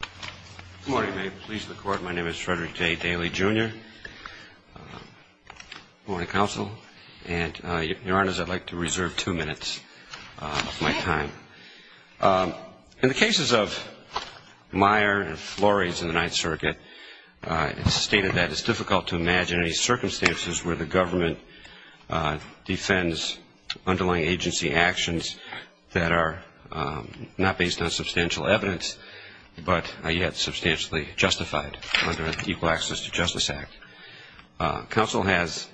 Good morning. May it please the Court, my name is Frederick J. Daley, Jr. I'm going to counsel, and Your Honors, I'd like to reserve two minutes of my time. In the cases of Meyer and Flores in the Ninth Circuit, it's stated that it's difficult to imagine any circumstances where the government defends underlying agency actions that are not based on substantial evidence but are yet substantially justified under an Equal Access to Justice Act. Counsel has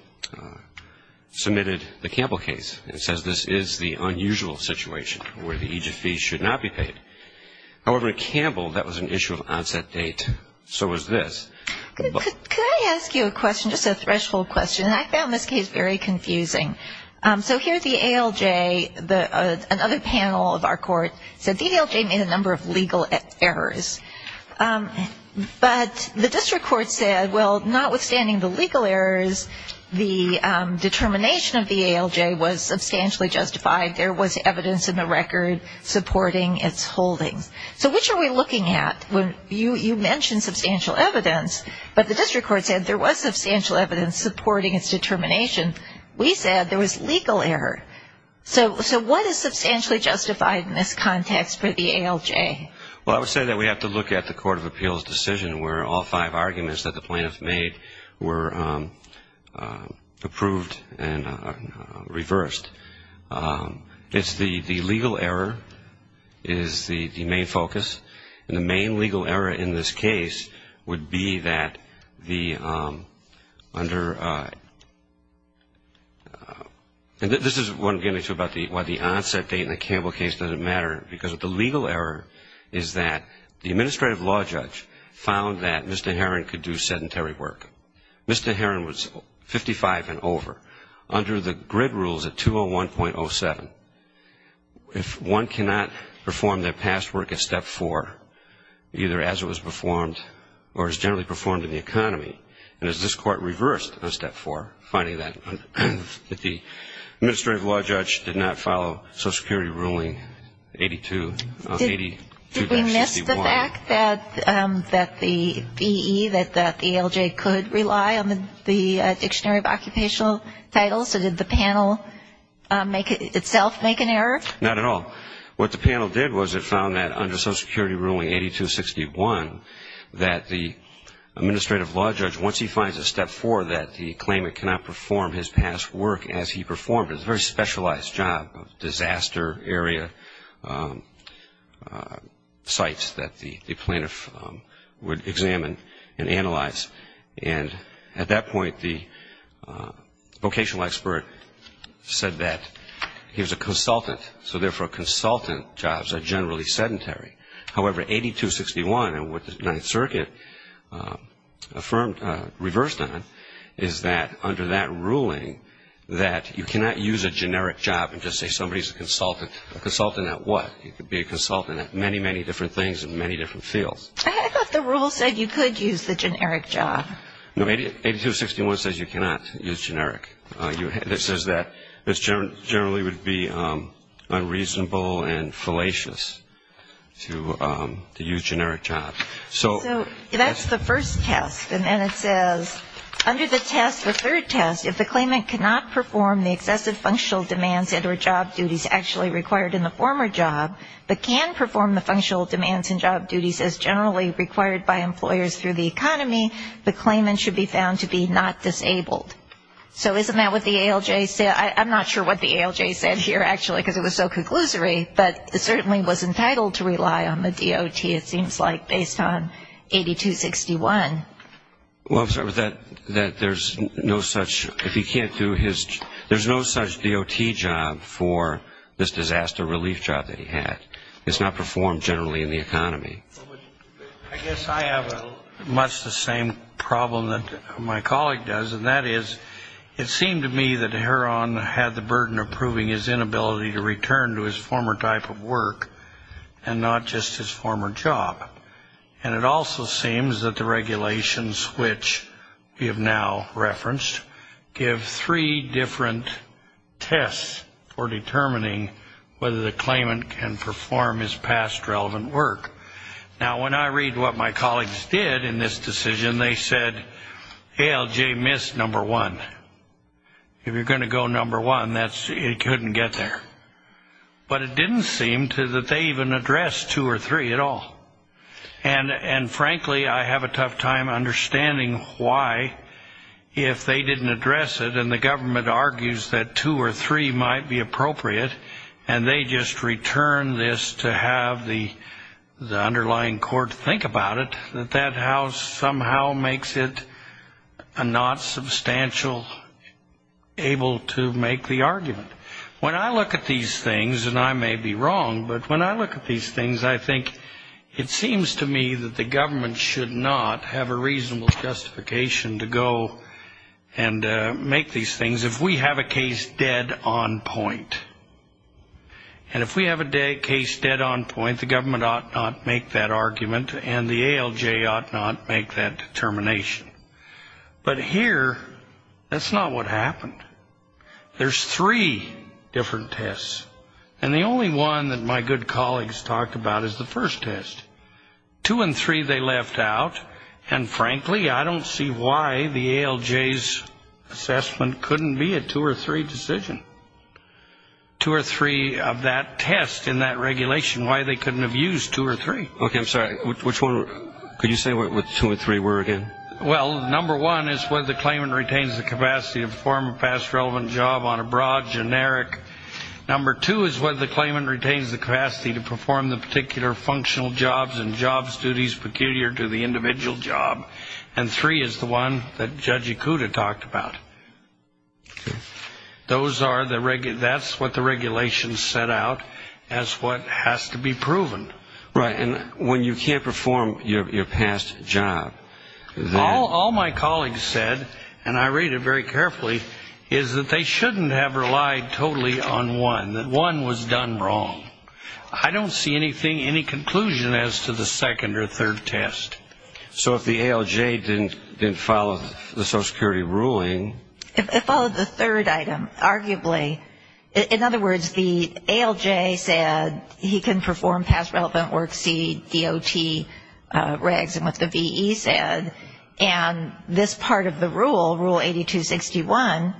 submitted the Campbell case and says this is the unusual situation where the agent fees should not be paid. However, at Campbell, that was an issue of onset date, so was this. Could I ask you a question, just a threshold question? I found this case very confusing. So here the ALJ, another panel of our court, said the ALJ made a number of legal errors. But the district court said, well, notwithstanding the legal errors, the determination of the ALJ was substantially justified. There was evidence in the record supporting its holdings. So which are we looking at? You mentioned substantial evidence, but the district court said there was substantial evidence supporting its determination. We said there was legal error. So what is substantially justified in this context for the ALJ? Well, I would say that we have to look at the Court of Appeals decision where all five arguments that the plaintiffs made were approved and reversed. It's the legal error is the main focus. And the main legal error in this case would be that the under the, and this is what I'm getting to about why the onset date in the Campbell case doesn't matter, because the legal error is that the administrative law judge found that Mr. Herron could do sedentary work. Mr. Herron was 55 and over, under the grid rules at 201.07. If one cannot perform their past work at step four, either as it was performed or as generally performed in the economy, and as this court reversed on step four, finding that the administrative law judge did not follow Social Security ruling 82.61. Did we miss the fact that the BE, that the ALJ could rely on the Dictionary of Occupational Titles? So did the panel itself make an error? Not at all. What the panel did was it found that under Social Security ruling 82.61, that the administrative law judge, once he finds a step four, that the claimant cannot perform his past work as he performed it. It's a very specialized job, disaster area sites that the plaintiff would examine and analyze. And at that point, the vocational expert said that he was a consultant, so therefore consultant jobs are generally sedentary. However, 82.61 and what the Ninth Circuit affirmed, reversed on, is that under that ruling that you cannot use a generic job and just say somebody's a consultant. A consultant at what? You could be a consultant at many, many different things in many different fields. I thought the rule said you could use the generic job. No, 82.61 says you cannot use generic. It says that this generally would be unreasonable and fallacious to use generic jobs. So that's the first test. And then it says under the test, the third test, if the claimant cannot perform the excessive functional demands and or job duties actually required in the former job, but can perform the functional demands and job duties as generally required by employers through the economy, the claimant should be found to be not disabled. So isn't that what the ALJ said? I'm not sure what the ALJ said here, actually, because it was so conclusory, but certainly was entitled to rely on the DOT, it seems like, based on 82.61. Well, I'm sorry, but that there's no such, if he can't do his, there's no such DOT job for this disaster relief job that he had. It's not performed generally in the economy. I guess I have much the same problem that my colleague does, and that is it seemed to me that Heron had the burden of proving his inability to return to his former type of work and not just his former job. And it also seems that the regulations, which we have now referenced, give three different tests for determining whether the claimant can perform his past relevant work. Now, when I read what my colleagues did in this decision, they said ALJ missed number one. If you're going to go number one, it couldn't get there. But it didn't seem that they even addressed two or three at all. And, frankly, I have a tough time understanding why, if they didn't address it and the government argues that two or three might be appropriate and they just return this to have the underlying court think about it, that that house somehow makes it a not substantial, able to make the argument. When I look at these things, and I may be wrong, but when I look at these things, I think it seems to me that the government should not have a reasonable justification to go and make these things if we have a case dead on point. And if we have a case dead on point, the government ought not make that argument, and the ALJ ought not make that determination. But here, that's not what happened. There's three different tests. And the only one that my good colleagues talked about is the first test. Two and three they left out. And, frankly, I don't see why the ALJ's assessment couldn't be a two or three decision. Two or three of that test in that regulation, why they couldn't have used two or three. Okay, I'm sorry. Which one? Could you say what two and three were again? Well, number one is whether the claimant retains the capacity to perform a past relevant job on a broad generic. Number two is whether the claimant retains the capacity to perform the particular functional jobs and jobs duties peculiar to the individual job. And three is the one that Judge Ikuda talked about. Those are the regs. That's what the regulation set out as what has to be proven. Right, and when you can't perform your past job. All my colleagues said, and I read it very carefully, is that they shouldn't have relied totally on one, that one was done wrong. I don't see any conclusion as to the second or third test. So if the ALJ didn't follow the Social Security ruling. It followed the third item, arguably. In other words, the ALJ said he can perform past relevant work, see DOT regs and what the VE said. And this part of the rule, Rule 8261,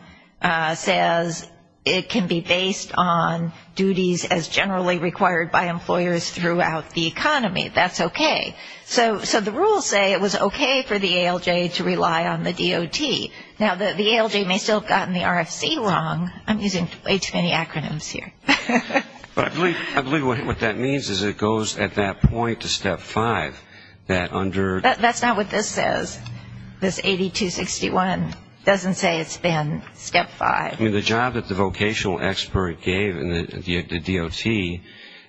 says it can be based on duties as generally required by employers throughout the economy. That's okay. So the rules say it was okay for the ALJ to rely on the DOT. Now, the ALJ may still have gotten the RFC wrong. I'm using way too many acronyms here. But I believe what that means is it goes at that point to Step 5. That's not what this says. This 8261 doesn't say it's been Step 5. I mean, the job that the vocational expert gave, the DOT,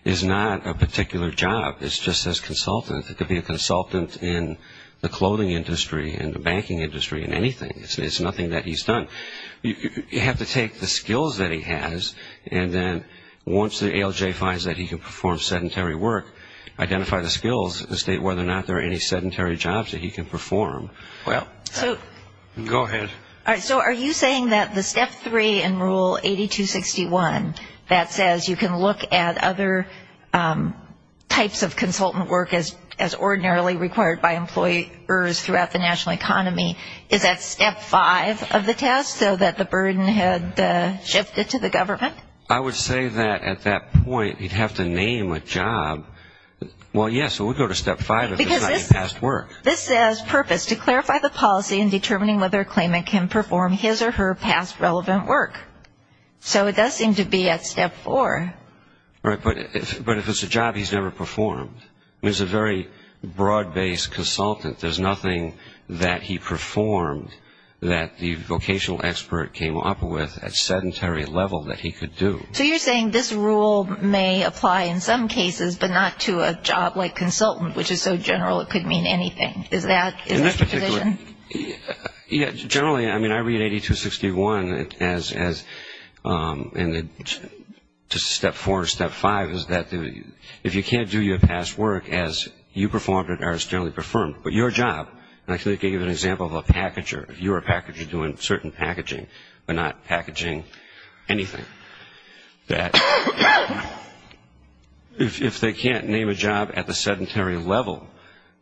is not a particular job. It's just his consultant. It could be a consultant in the clothing industry, in the banking industry, in anything. It's nothing that he's done. You have to take the skills that he has, and then once the ALJ finds that he can perform sedentary work, identify the skills and state whether or not there are any sedentary jobs that he can perform. Go ahead. So are you saying that the Step 3 in Rule 8261 that says you can look at other types of consultant work as ordinarily required by employers throughout the national economy, is that Step 5 of the test, so that the burden had shifted to the government? I would say that at that point, you'd have to name a job. Well, yes, we'll go to Step 5 if it's not your past work. This says purpose, to clarify the policy in determining whether a claimant can perform his or her past relevant work. So it does seem to be at Step 4. Right, but if it's a job he's never performed. He's a very broad-based consultant. There's nothing that he performed that the vocational expert came up with at sedentary level that he could do. So you're saying this rule may apply in some cases, but not to a job like consultant, which is so general it could mean anything. Is that the position? Yes, generally. I mean, I read 8261 as Step 4 or Step 5 is that if you can't do your past work as you performed or as generally performed, but your job, and I can give you an example of a packager. You're a packager doing certain packaging, but not packaging anything. That if they can't name a job at the sedentary level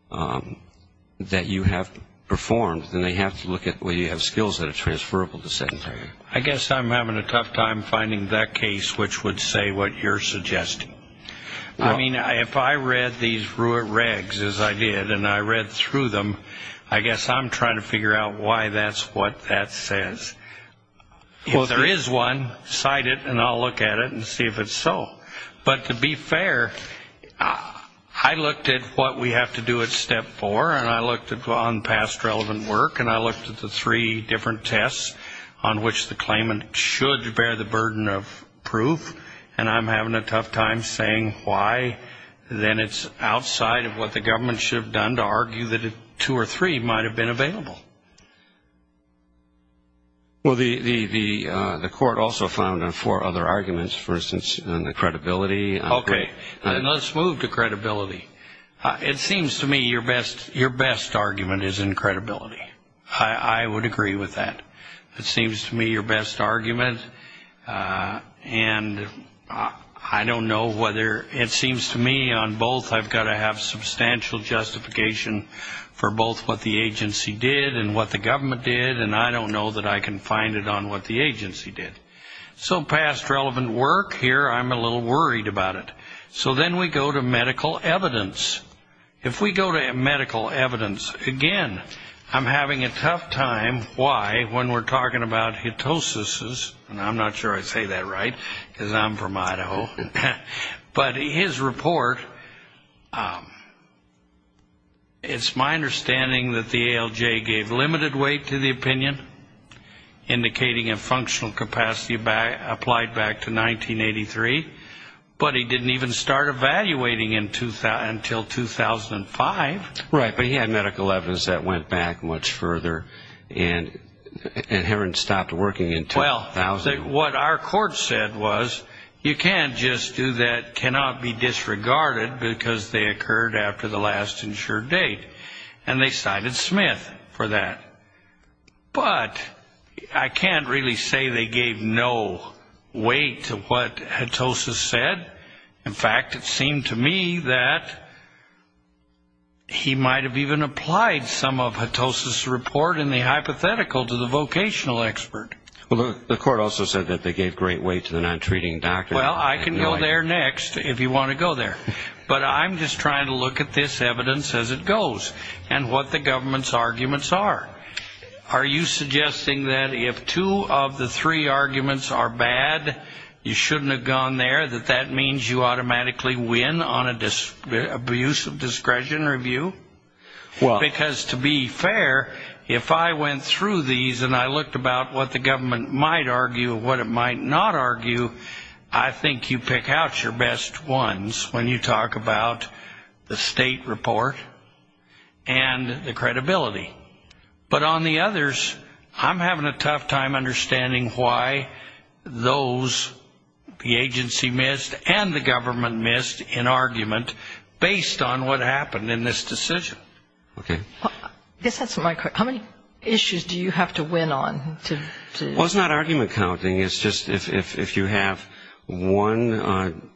that you have performed, then they have to look at whether you have skills that are transferable to sedentary. I guess I'm having a tough time finding that case which would say what you're suggesting. I mean, if I read these RUIT regs as I did and I read through them, I guess I'm trying to figure out why that's what that says. If there is one, cite it, and I'll look at it and see if it's so. But to be fair, I looked at what we have to do at Step 4, and I looked at past relevant work, and I looked at the three different tests on which the claimant should bear the burden of proof, and I'm having a tough time saying why then it's outside of what the government should have done to argue that two or three might have been available. Well, the court also found on four other arguments, for instance, on the credibility. Okay. Let's move to credibility. It seems to me your best argument is in credibility. I would agree with that. It seems to me your best argument, and I don't know whether it seems to me on both I've got to have substantial justification for both what the agency did and what the government did, and I don't know that I can find it on what the agency did. So past relevant work, here I'm a little worried about it. So then we go to medical evidence. If we go to medical evidence, again, I'm having a tough time why when we're talking about ketosis, and I'm not sure I say that right because I'm from Idaho, but his report, it's my understanding that the ALJ gave limited weight to the opinion, indicating a functional capacity applied back to 1983, but he didn't even start evaluating until 2005. Right, but he had medical evidence that went back much further, and Heron stopped working until 2000. What our court said was you can't just do that, cannot be disregarded, because they occurred after the last insured date, and they cited Smith for that. But I can't really say they gave no weight to what ketosis said. In fact, it seemed to me that he might have even applied some of ketosis report in the hypothetical to the vocational expert. Well, the court also said that they gave great weight to the non-treating doctor. Well, I can go there next if you want to go there. But I'm just trying to look at this evidence as it goes and what the government's arguments are. Are you suggesting that if two of the three arguments are bad, you shouldn't have gone there, that that means you automatically win on an abuse of discretion review? Because to be fair, if I went through these and I looked about what the government might argue and what it might not argue, I think you pick out your best ones when you talk about the state report and the credibility. But on the others, I'm having a tough time understanding why those, the agency missed and the government missed an argument based on what happened in this decision. Okay. I guess that's my question. How many issues do you have to win on? Well, it's not argument counting. It's just if you have one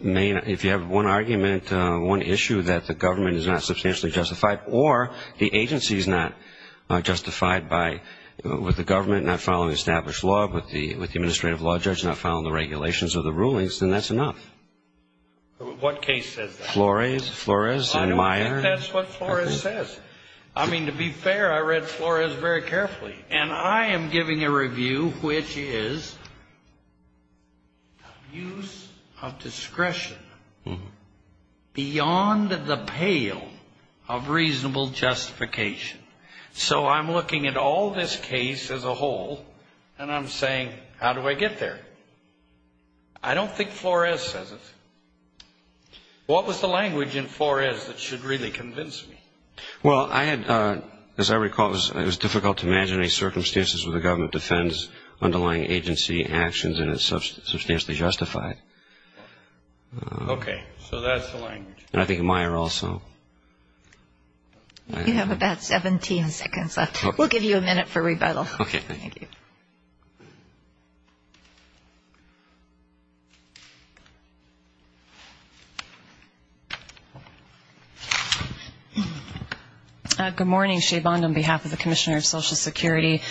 main, if you have one argument, one issue that the government is not substantially justified or the agency is not justified with the government not following established law, with the administrative law judge not following the regulations or the rulings, then that's enough. What case says that? Flores. Flores and Meyer. I don't think that's what Flores says. I mean, to be fair, I read Flores very carefully. And I am giving a review which is abuse of discretion beyond the pale of reasonable justification. So I'm looking at all this case as a whole and I'm saying, how do I get there? I don't think Flores says it. What was the language in Flores that should really convince me? Well, I had, as I recall, it was difficult to imagine any circumstances where the government defends underlying agency actions and is substantially justified. Okay. So that's the language. And I think in Meyer also. You have about 17 seconds left. We'll give you a minute for rebuttal. Okay. Thank you. Good morning. Shay Bond on behalf of the Commissioner of Social Security.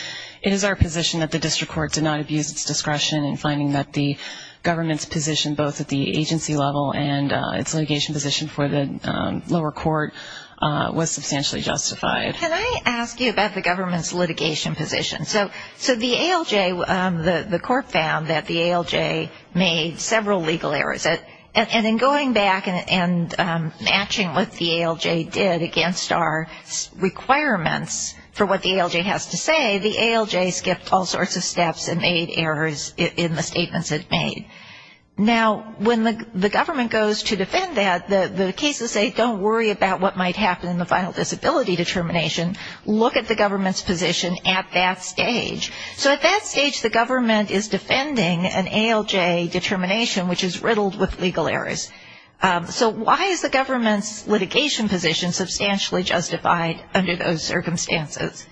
It is our position that the district court did not abuse its discretion in finding that the government's position both at the agency level and its litigation position for the lower court was substantially justified. Can I ask you about the government's litigation position? So the ALJ, the court found that the ALJ made several legal errors. And in going back and matching what the ALJ did against our requirements for what the ALJ has to say, the ALJ skipped all sorts of steps and made errors in the statements it made. Now, when the government goes to defend that, the cases say, don't worry about what might happen in the final disability determination. Look at the government's position at that stage. So at that stage, the government is defending an ALJ determination, which is riddled with legal errors. So why is the government's litigation position substantially justified under those circumstances?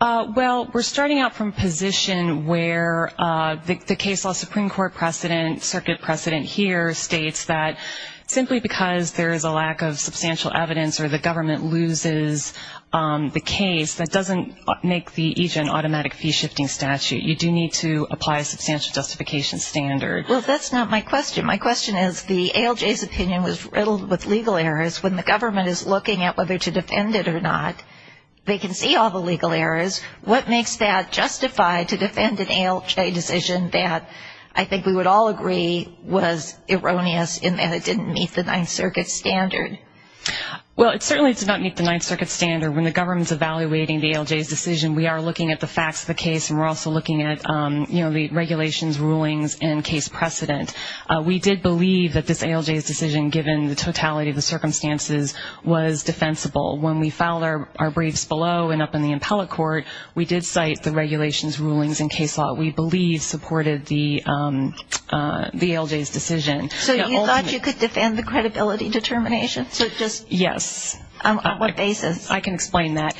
Well, we're starting out from a position where the case law Supreme Court precedent, circuit precedent here states that simply because there is a lack of substantial evidence or the government loses the case, that doesn't make the EJ an automatic fee-shifting statute. You do need to apply a substantial justification standard. Well, that's not my question. My question is the ALJ's opinion was riddled with legal errors. When the government is looking at whether to defend it or not, they can see all the legal errors. What makes that justify to defend an ALJ decision that I think we would all agree was erroneous in that it didn't meet the Ninth Circuit standard? Well, it certainly did not meet the Ninth Circuit standard. When the government's evaluating the ALJ's decision, we are looking at the facts of the case, and we're also looking at, you know, the regulations, rulings, and case precedent. We did believe that this ALJ's decision, given the totality of the circumstances, was defensible. When we filed our briefs below and up in the appellate court, we did cite the regulations, rulings, and case law we believe supported the ALJ's decision. So you thought you could defend the credibility determination? Yes. On what basis? I can explain that.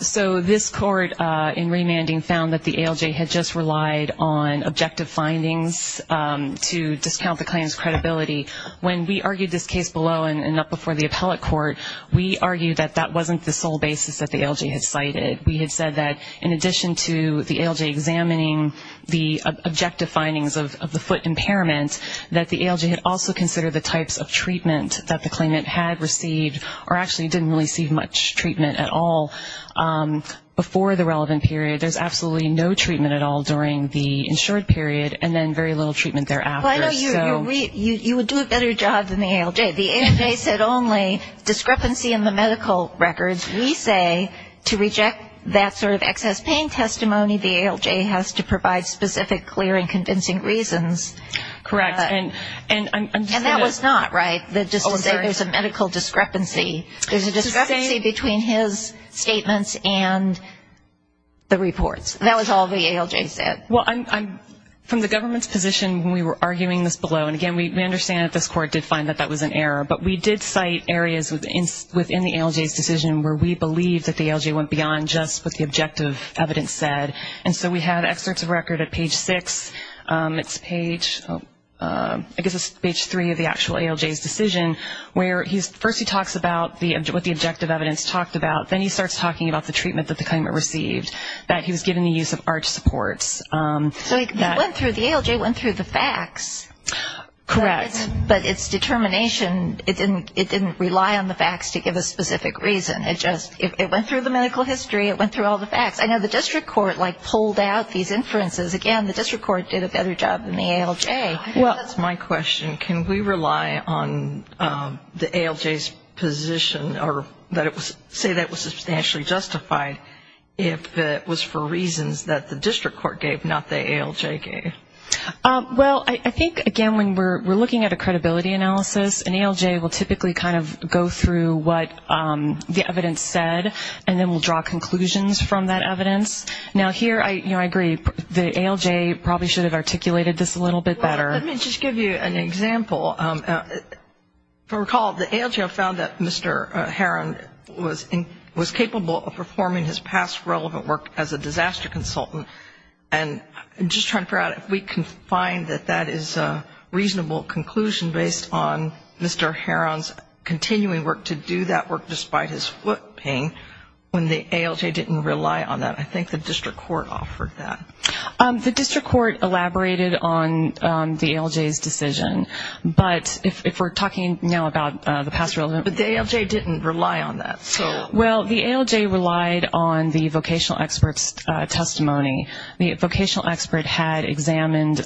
So this court in remanding found that the ALJ had just relied on objective findings to discount the claim's credibility. When we argued this case below and up before the appellate court, we argued that that wasn't the sole basis that the ALJ had cited. We had said that in addition to the ALJ examining the objective findings of the foot impairment, that the ALJ had also considered the types of treatment that the claimant had received or actually didn't receive much treatment at all before the relevant period. There's absolutely no treatment at all during the insured period, and then very little treatment thereafter. Well, I know you would do a better job than the ALJ. The ALJ said only discrepancy in the medical records. We say to reject that sort of excess pain testimony, the ALJ has to provide specific, clear, and convincing reasons. Correct. And I'm just going to – And that was not right, that just to say there's a medical discrepancy. There's a discrepancy between his statements and the reports. That was all the ALJ said. Well, from the government's position when we were arguing this below, and again we understand that this court did find that that was an error, but we did cite areas within the ALJ's decision where we believed that the ALJ went beyond just what the objective evidence said. And so we had excerpts of record at page six. It's page, I guess it's page three of the actual ALJ's decision, where first he talks about what the objective evidence talked about. Then he starts talking about the treatment that the claimant received, that he was given the use of arch supports. So he went through, the ALJ went through the facts. Correct. But its determination, it didn't rely on the facts to give a specific reason. It just, it went through the medical history, it went through all the facts. I know the district court like pulled out these inferences. Again, the district court did a better job than the ALJ. Well, that's my question. Can we rely on the ALJ's position or say that was substantially justified if it was for reasons that the district court gave, not the ALJ gave? Well, I think, again, when we're looking at a credibility analysis, an ALJ will typically kind of go through what the evidence said and then will draw conclusions from that evidence. Now here, you know, I agree, the ALJ probably should have articulated this a little bit better. Well, let me just give you an example. If you recall, the ALJ found that Mr. Heron was capable of performing his past relevant work as a disaster consultant. And just trying to figure out if we can find that that is a reasonable conclusion based on Mr. Heron's continuing work to do that work despite his foot pain when the ALJ didn't rely on that. I think the district court offered that. The district court elaborated on the ALJ's decision. But if we're talking now about the past relevant work. But the ALJ didn't rely on that. Well, the ALJ relied on the vocational expert's testimony. The vocational expert had examined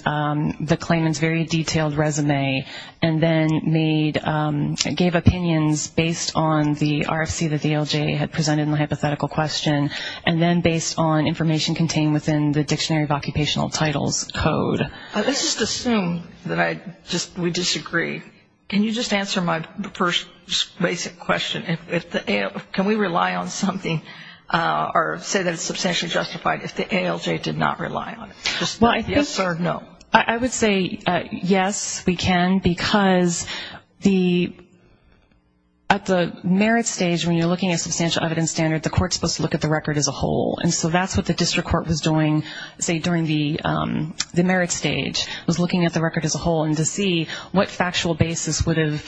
the claimant's very detailed resume and then gave opinions based on the RFC that the ALJ had presented in the hypothetical question and then based on information contained within the Dictionary of Occupational Titles code. Let's just assume that we disagree. Can you just answer my first basic question? Can we rely on something or say that it's substantially justified if the ALJ did not rely on it? Just yes or no. I would say yes, we can. Because at the merit stage, when you're looking at substantial evidence standard, the court is supposed to look at the record as a whole. And so that's what the district court was doing, say, during the merit stage, was looking at the record as a whole and to see what factual basis would have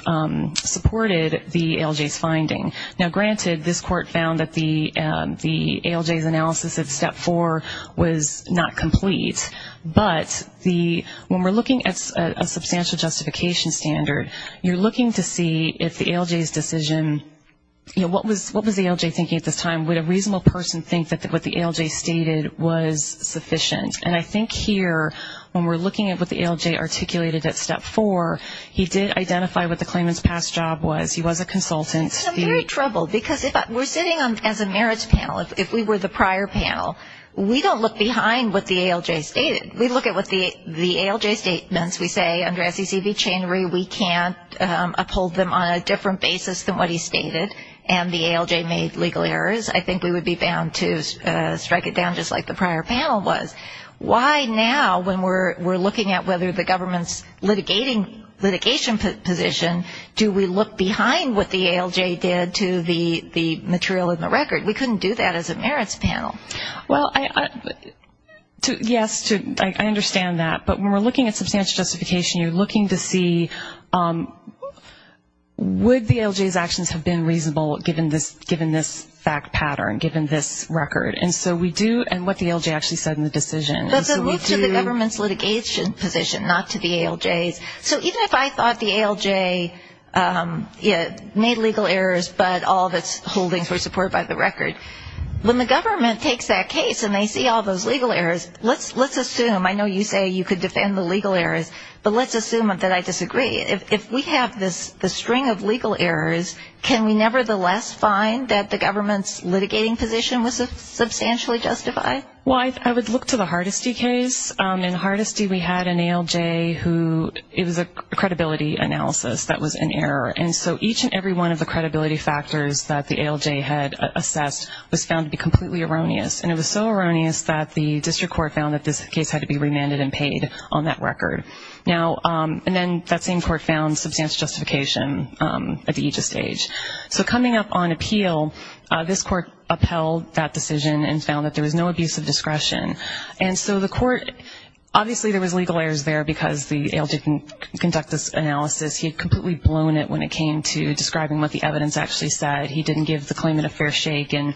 supported the ALJ's finding. Now, granted, this court found that the ALJ's analysis of Step 4 was not complete. But when we're looking at a substantial justification standard, you're looking to see if the ALJ's decision, what was the ALJ thinking at this time? Would a reasonable person think that what the ALJ stated was sufficient? And I think here, when we're looking at what the ALJ articulated at Step 4, he did identify what the claimant's past job was. He was a consultant. And I'm very troubled because if we're sitting as a merits panel, if we were the prior panel, we don't look behind what the ALJ stated. We look at what the ALJ statements, we say, under SECV Chain Re, we can't uphold them on a different basis than what he stated. And the ALJ made legal errors. I think we would be bound to strike it down just like the prior panel was. Why now, when we're looking at whether the government's litigation position, do we look behind what the ALJ did to the material in the record? We couldn't do that as a merits panel. Well, yes, I understand that. But when we're looking at substantial justification, you're looking to see would the ALJ's actions have been reasonable, given this fact pattern, given this record. And so we do, and what the ALJ actually said in the decision. But then move to the government's litigation position, not to the ALJ's. So even if I thought the ALJ made legal errors, but all of its holdings were supported by the record, when the government takes that case and they see all those legal errors, let's assume, I know you say you could defend the legal errors, but let's assume that I disagree. If we have this string of legal errors, can we nevertheless find that the government's litigating position was substantially justified? Well, I would look to the Hardesty case. In Hardesty we had an ALJ who it was a credibility analysis that was in error. And so each and every one of the credibility factors that the ALJ had assessed was found to be completely erroneous. And it was so erroneous that the district court found that this case had to be remanded and paid on that record. And then that same court found substantial justification at each stage. So coming up on appeal, this court upheld that decision and found that there was no abuse of discretion. And so the court, obviously there was legal errors there because the ALJ didn't conduct this analysis. He had completely blown it when it came to describing what the evidence actually said. He said he didn't give the claimant a fair shake and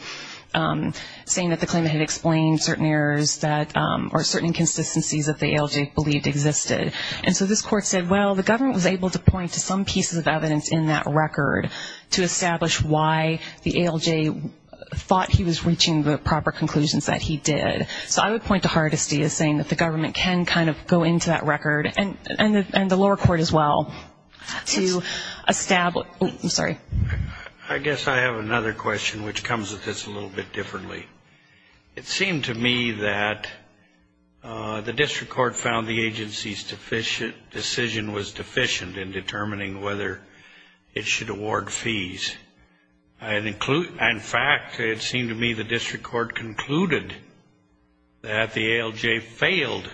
saying that the claimant had explained certain inconsistencies that the ALJ believed existed. And so this court said, well, the government was able to point to some pieces of evidence in that record to establish why the ALJ thought he was reaching the proper conclusions that he did. So I would point to Hardesty as saying that the government can kind of go into that record and the lower court as well to establish. I'm sorry. I guess I have another question which comes with this a little bit differently. It seemed to me that the district court found the agency's decision was deficient in determining whether it should award fees. In fact, it seemed to me the district court concluded that the ALJ failed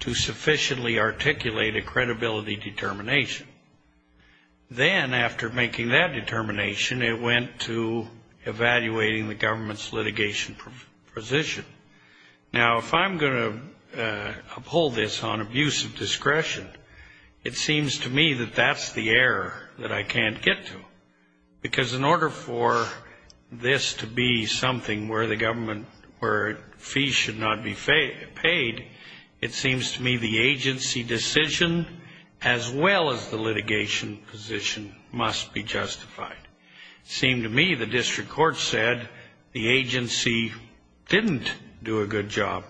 to sufficiently articulate a credibility determination. Then after making that determination, it went to evaluating the government's litigation position. Now, if I'm going to uphold this on abuse of discretion, it seems to me that that's the error that I can't get to because in order for this to be something where the government, where fees should not be paid, it seems to me the agency decision as well as the litigation position must be justified. It seemed to me the district court said the agency didn't do a good job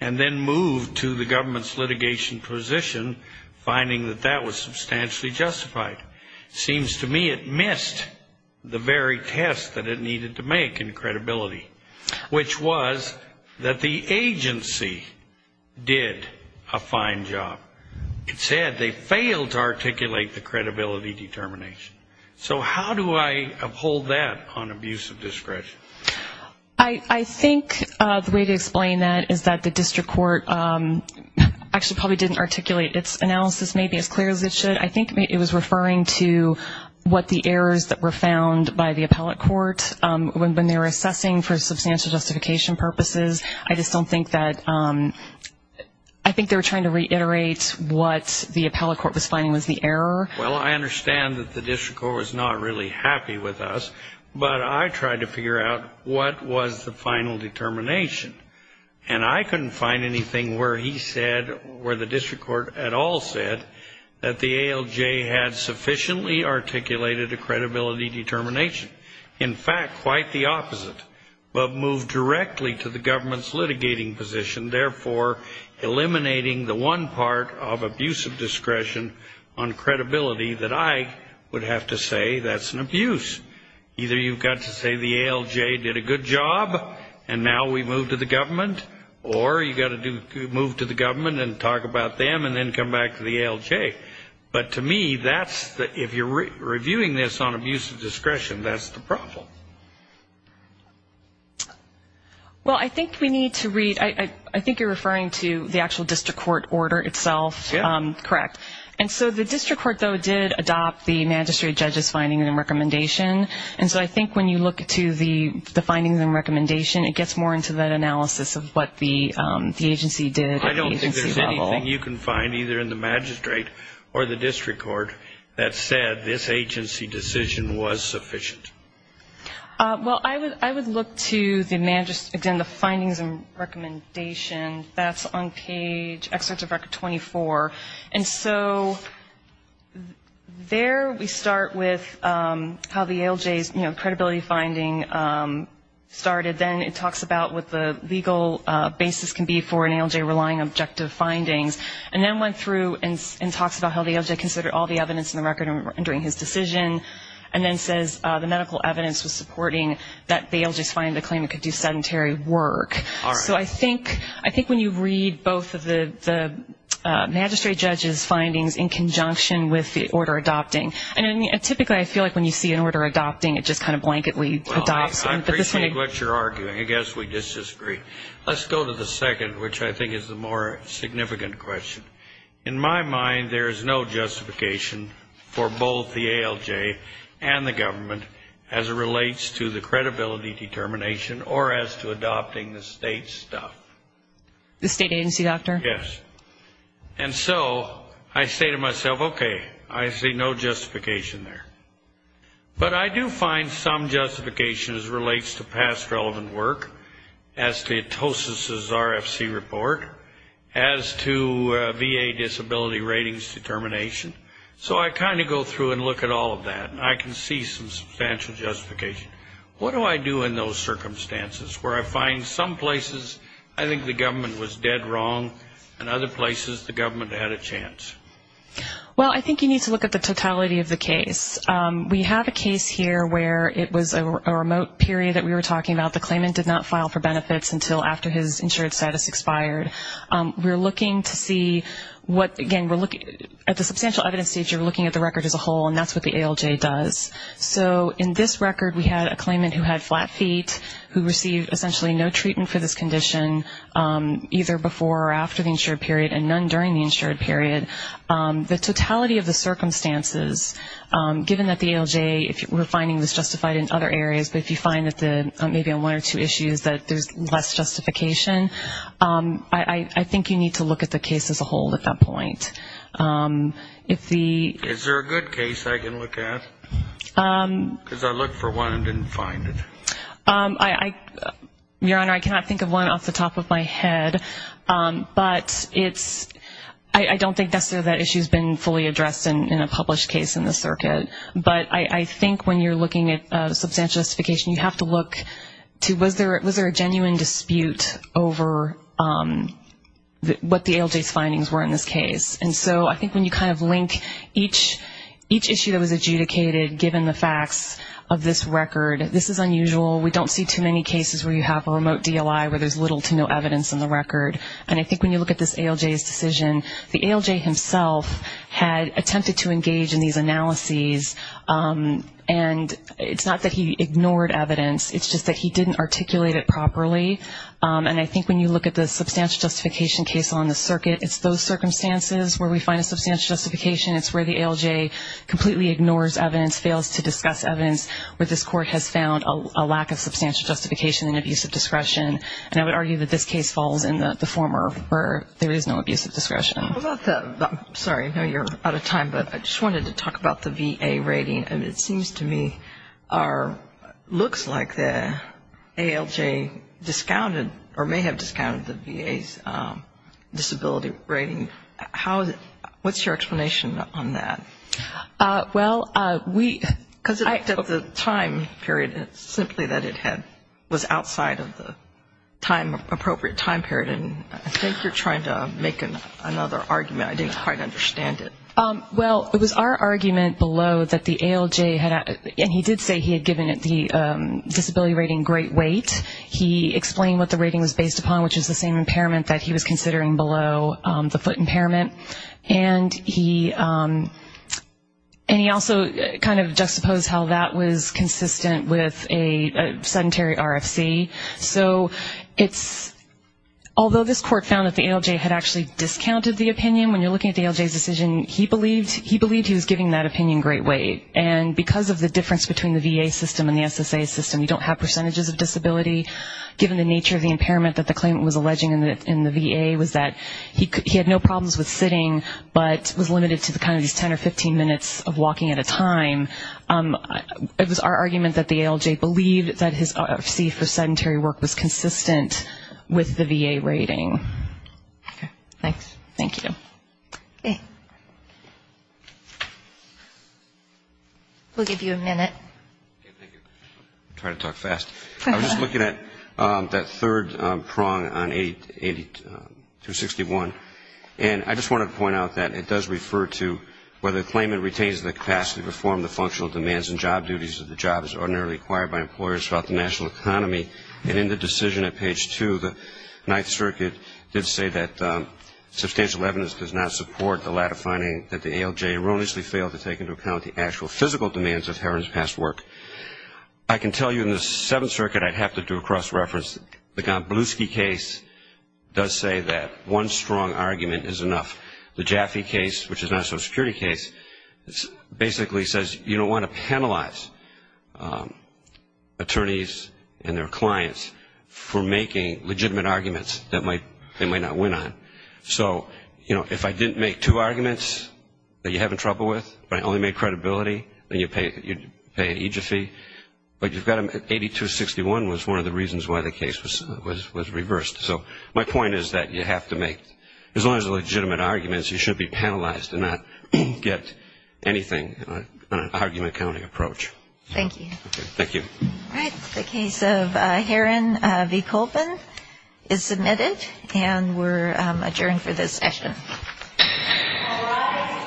and then moved to the government's litigation position, finding that that was substantially justified. It seems to me it missed the very test that it needed to make in credibility, which was that the agency did a fine job. It said they failed to articulate the credibility determination. So how do I uphold that on abuse of discretion? I think the way to explain that is that the district court actually probably didn't articulate its analysis maybe as clear as it should. I think it was referring to what the errors that were found by the appellate court when they were assessing for substantial justification purposes. I just don't think that they were trying to reiterate what the appellate court was finding was the error. Well, I understand that the district court was not really happy with us, but I tried to figure out what was the final determination. And I couldn't find anything where he said, where the district court at all said, that the ALJ had sufficiently articulated a credibility determination. In fact, quite the opposite, but moved directly to the government's litigating position, therefore eliminating the one part of abuse of discretion on credibility that I would have to say that's an abuse. Either you've got to say the ALJ did a good job, and now we move to the government, or you've got to move to the government and talk about them and then come back to the ALJ. But to me, if you're reviewing this on abuse of discretion, that's the problem. Well, I think we need to read, I think you're referring to the actual district court order itself. Correct. And so the district court, though, did adopt the magistrate judge's findings and recommendation. And so I think when you look to the findings and recommendation, it gets more into that analysis of what the agency did at the agency level. I don't think there's anything you can find, either in the magistrate or the district court, that said this agency decision was sufficient. Well, I would look to, again, the findings and recommendation. That's on page, excerpt of record 24. And so there we start with how the ALJ's, you know, credibility finding started. Then it talks about what the legal basis can be for an ALJ relying on objective findings. And then went through and talks about how the ALJ considered all the evidence in the record in rendering his decision, and then says the medical evidence was supporting that the ALJ's finding, the claim it could do sedentary work. All right. So I think when you read both of the magistrate judge's findings in conjunction with the order adopting, and typically I feel like when you see an order adopting, it just kind of blanketly adopts. Well, I appreciate what you're arguing. I guess we disagree. Let's go to the second, which I think is the more significant question. In my mind, there is no justification for both the ALJ and the government as it relates to the credibility determination or as to adopting the state stuff. The state agency, doctor? Yes. And so I say to myself, okay, I see no justification there. But I do find some justification as it relates to past relevant work, as to Atosis' RFC report, as to VA disability ratings determination. So I kind of go through and look at all of that, and I can see some substantial justification. What do I do in those circumstances where I find some places I think the government was dead wrong and other places the government had a chance? Well, I think you need to look at the totality of the case. We have a case here where it was a remote period that we were talking about. The claimant did not file for benefits until after his insurance status expired. We're looking to see what, again, at the substantial evidence stage, you're looking at the record as a whole, and that's what the ALJ does. So in this record, we had a claimant who had flat feet, who received essentially no treatment for this condition either before or after the insured period and none during the insured period. The totality of the circumstances, given that the ALJ, if we're finding this justified in other areas, but if you find that maybe on one or two issues that there's less justification, I think you need to look at the case as a whole at that point. Is there a good case I can look at? Because I looked for one and didn't find it. Your Honor, I cannot think of one off the top of my head, but I don't think necessarily that issue has been fully addressed in a published case in this circuit. But I think when you're looking at substantial justification, you have to look to was there a genuine dispute over what the ALJ's findings were in this case. And so I think when you kind of link each issue that was adjudicated, given the facts of this record, this is unusual. We don't see too many cases where you have a remote DLI where there's little to no evidence in the record. And I think when you look at this ALJ's decision, the ALJ himself had attempted to engage in these analyses, and it's not that he ignored evidence. It's just that he didn't articulate it properly. And I think when you look at the substantial justification case on the circuit, it's those circumstances where we find a substantial justification. It's where the ALJ completely ignores evidence, fails to discuss evidence, where this Court has found a lack of substantial justification and abusive discretion. And I would argue that this case falls in the form where there is no abusive discretion. Sorry, I know you're out of time, but I just wanted to talk about the VA rating. It seems to me looks like the ALJ discounted or may have discounted the VA's disability rating. What's your explanation on that? Well, we ‑‑ Because of the time period, it's simply that it was outside of the appropriate time period, and I think you're trying to make another argument. I didn't quite understand it. Well, it was our argument below that the ALJ had ‑‑ and he did say he had given it the disability rating great weight. He explained what the rating was based upon, which is the same impairment that he was considering below the foot impairment. And he also kind of juxtaposed how that was consistent with a sedentary RFC. So it's ‑‑ although this Court found that the ALJ had actually discounted the opinion, when you're looking at the ALJ's decision, he believed he was giving that opinion great weight. And because of the difference between the VA system and the SSA system, you don't have percentages of disability, given the nature of the impairment that the claimant was alleging in the VA was that he had no problems with sitting, but was limited to kind of these 10 or 15 minutes of walking at a time. It was our argument that the ALJ believed that his RFC for sedentary work was consistent with the VA rating. Okay. Thanks. Thank you. Okay. We'll give you a minute. Okay, thank you. I try to talk fast. I was just looking at that third prong on 8261, and I just wanted to point out that it does refer to whether the claimant retains the capacity to perform the functional demands and job duties of the job as ordinarily acquired by employers throughout the national economy. And in the decision at page 2, the Ninth Circuit did say that substantial evidence does not support the latter finding that the ALJ erroneously failed to take into account the actual physical demands of Herron's past work. I can tell you in the Seventh Circuit I'd have to do a cross-reference. The Gomblowski case does say that one strong argument is enough. The Jaffe case, which is not a Social Security case, basically says you don't want to penalize attorneys and their clients for making legitimate arguments that they might not win on. So, you know, if I didn't make two arguments that you have trouble with, but I only made credibility, then you'd pay an EGIF fee. But you've got to 8261 was one of the reasons why the case was reversed. So my point is that you have to make, as long as they're legitimate arguments, you should be penalized and not get anything on an argument counting approach. Thank you. Thank you. All right. The case of Herron v. Colpin is submitted, and we're adjourned for this session. All rise.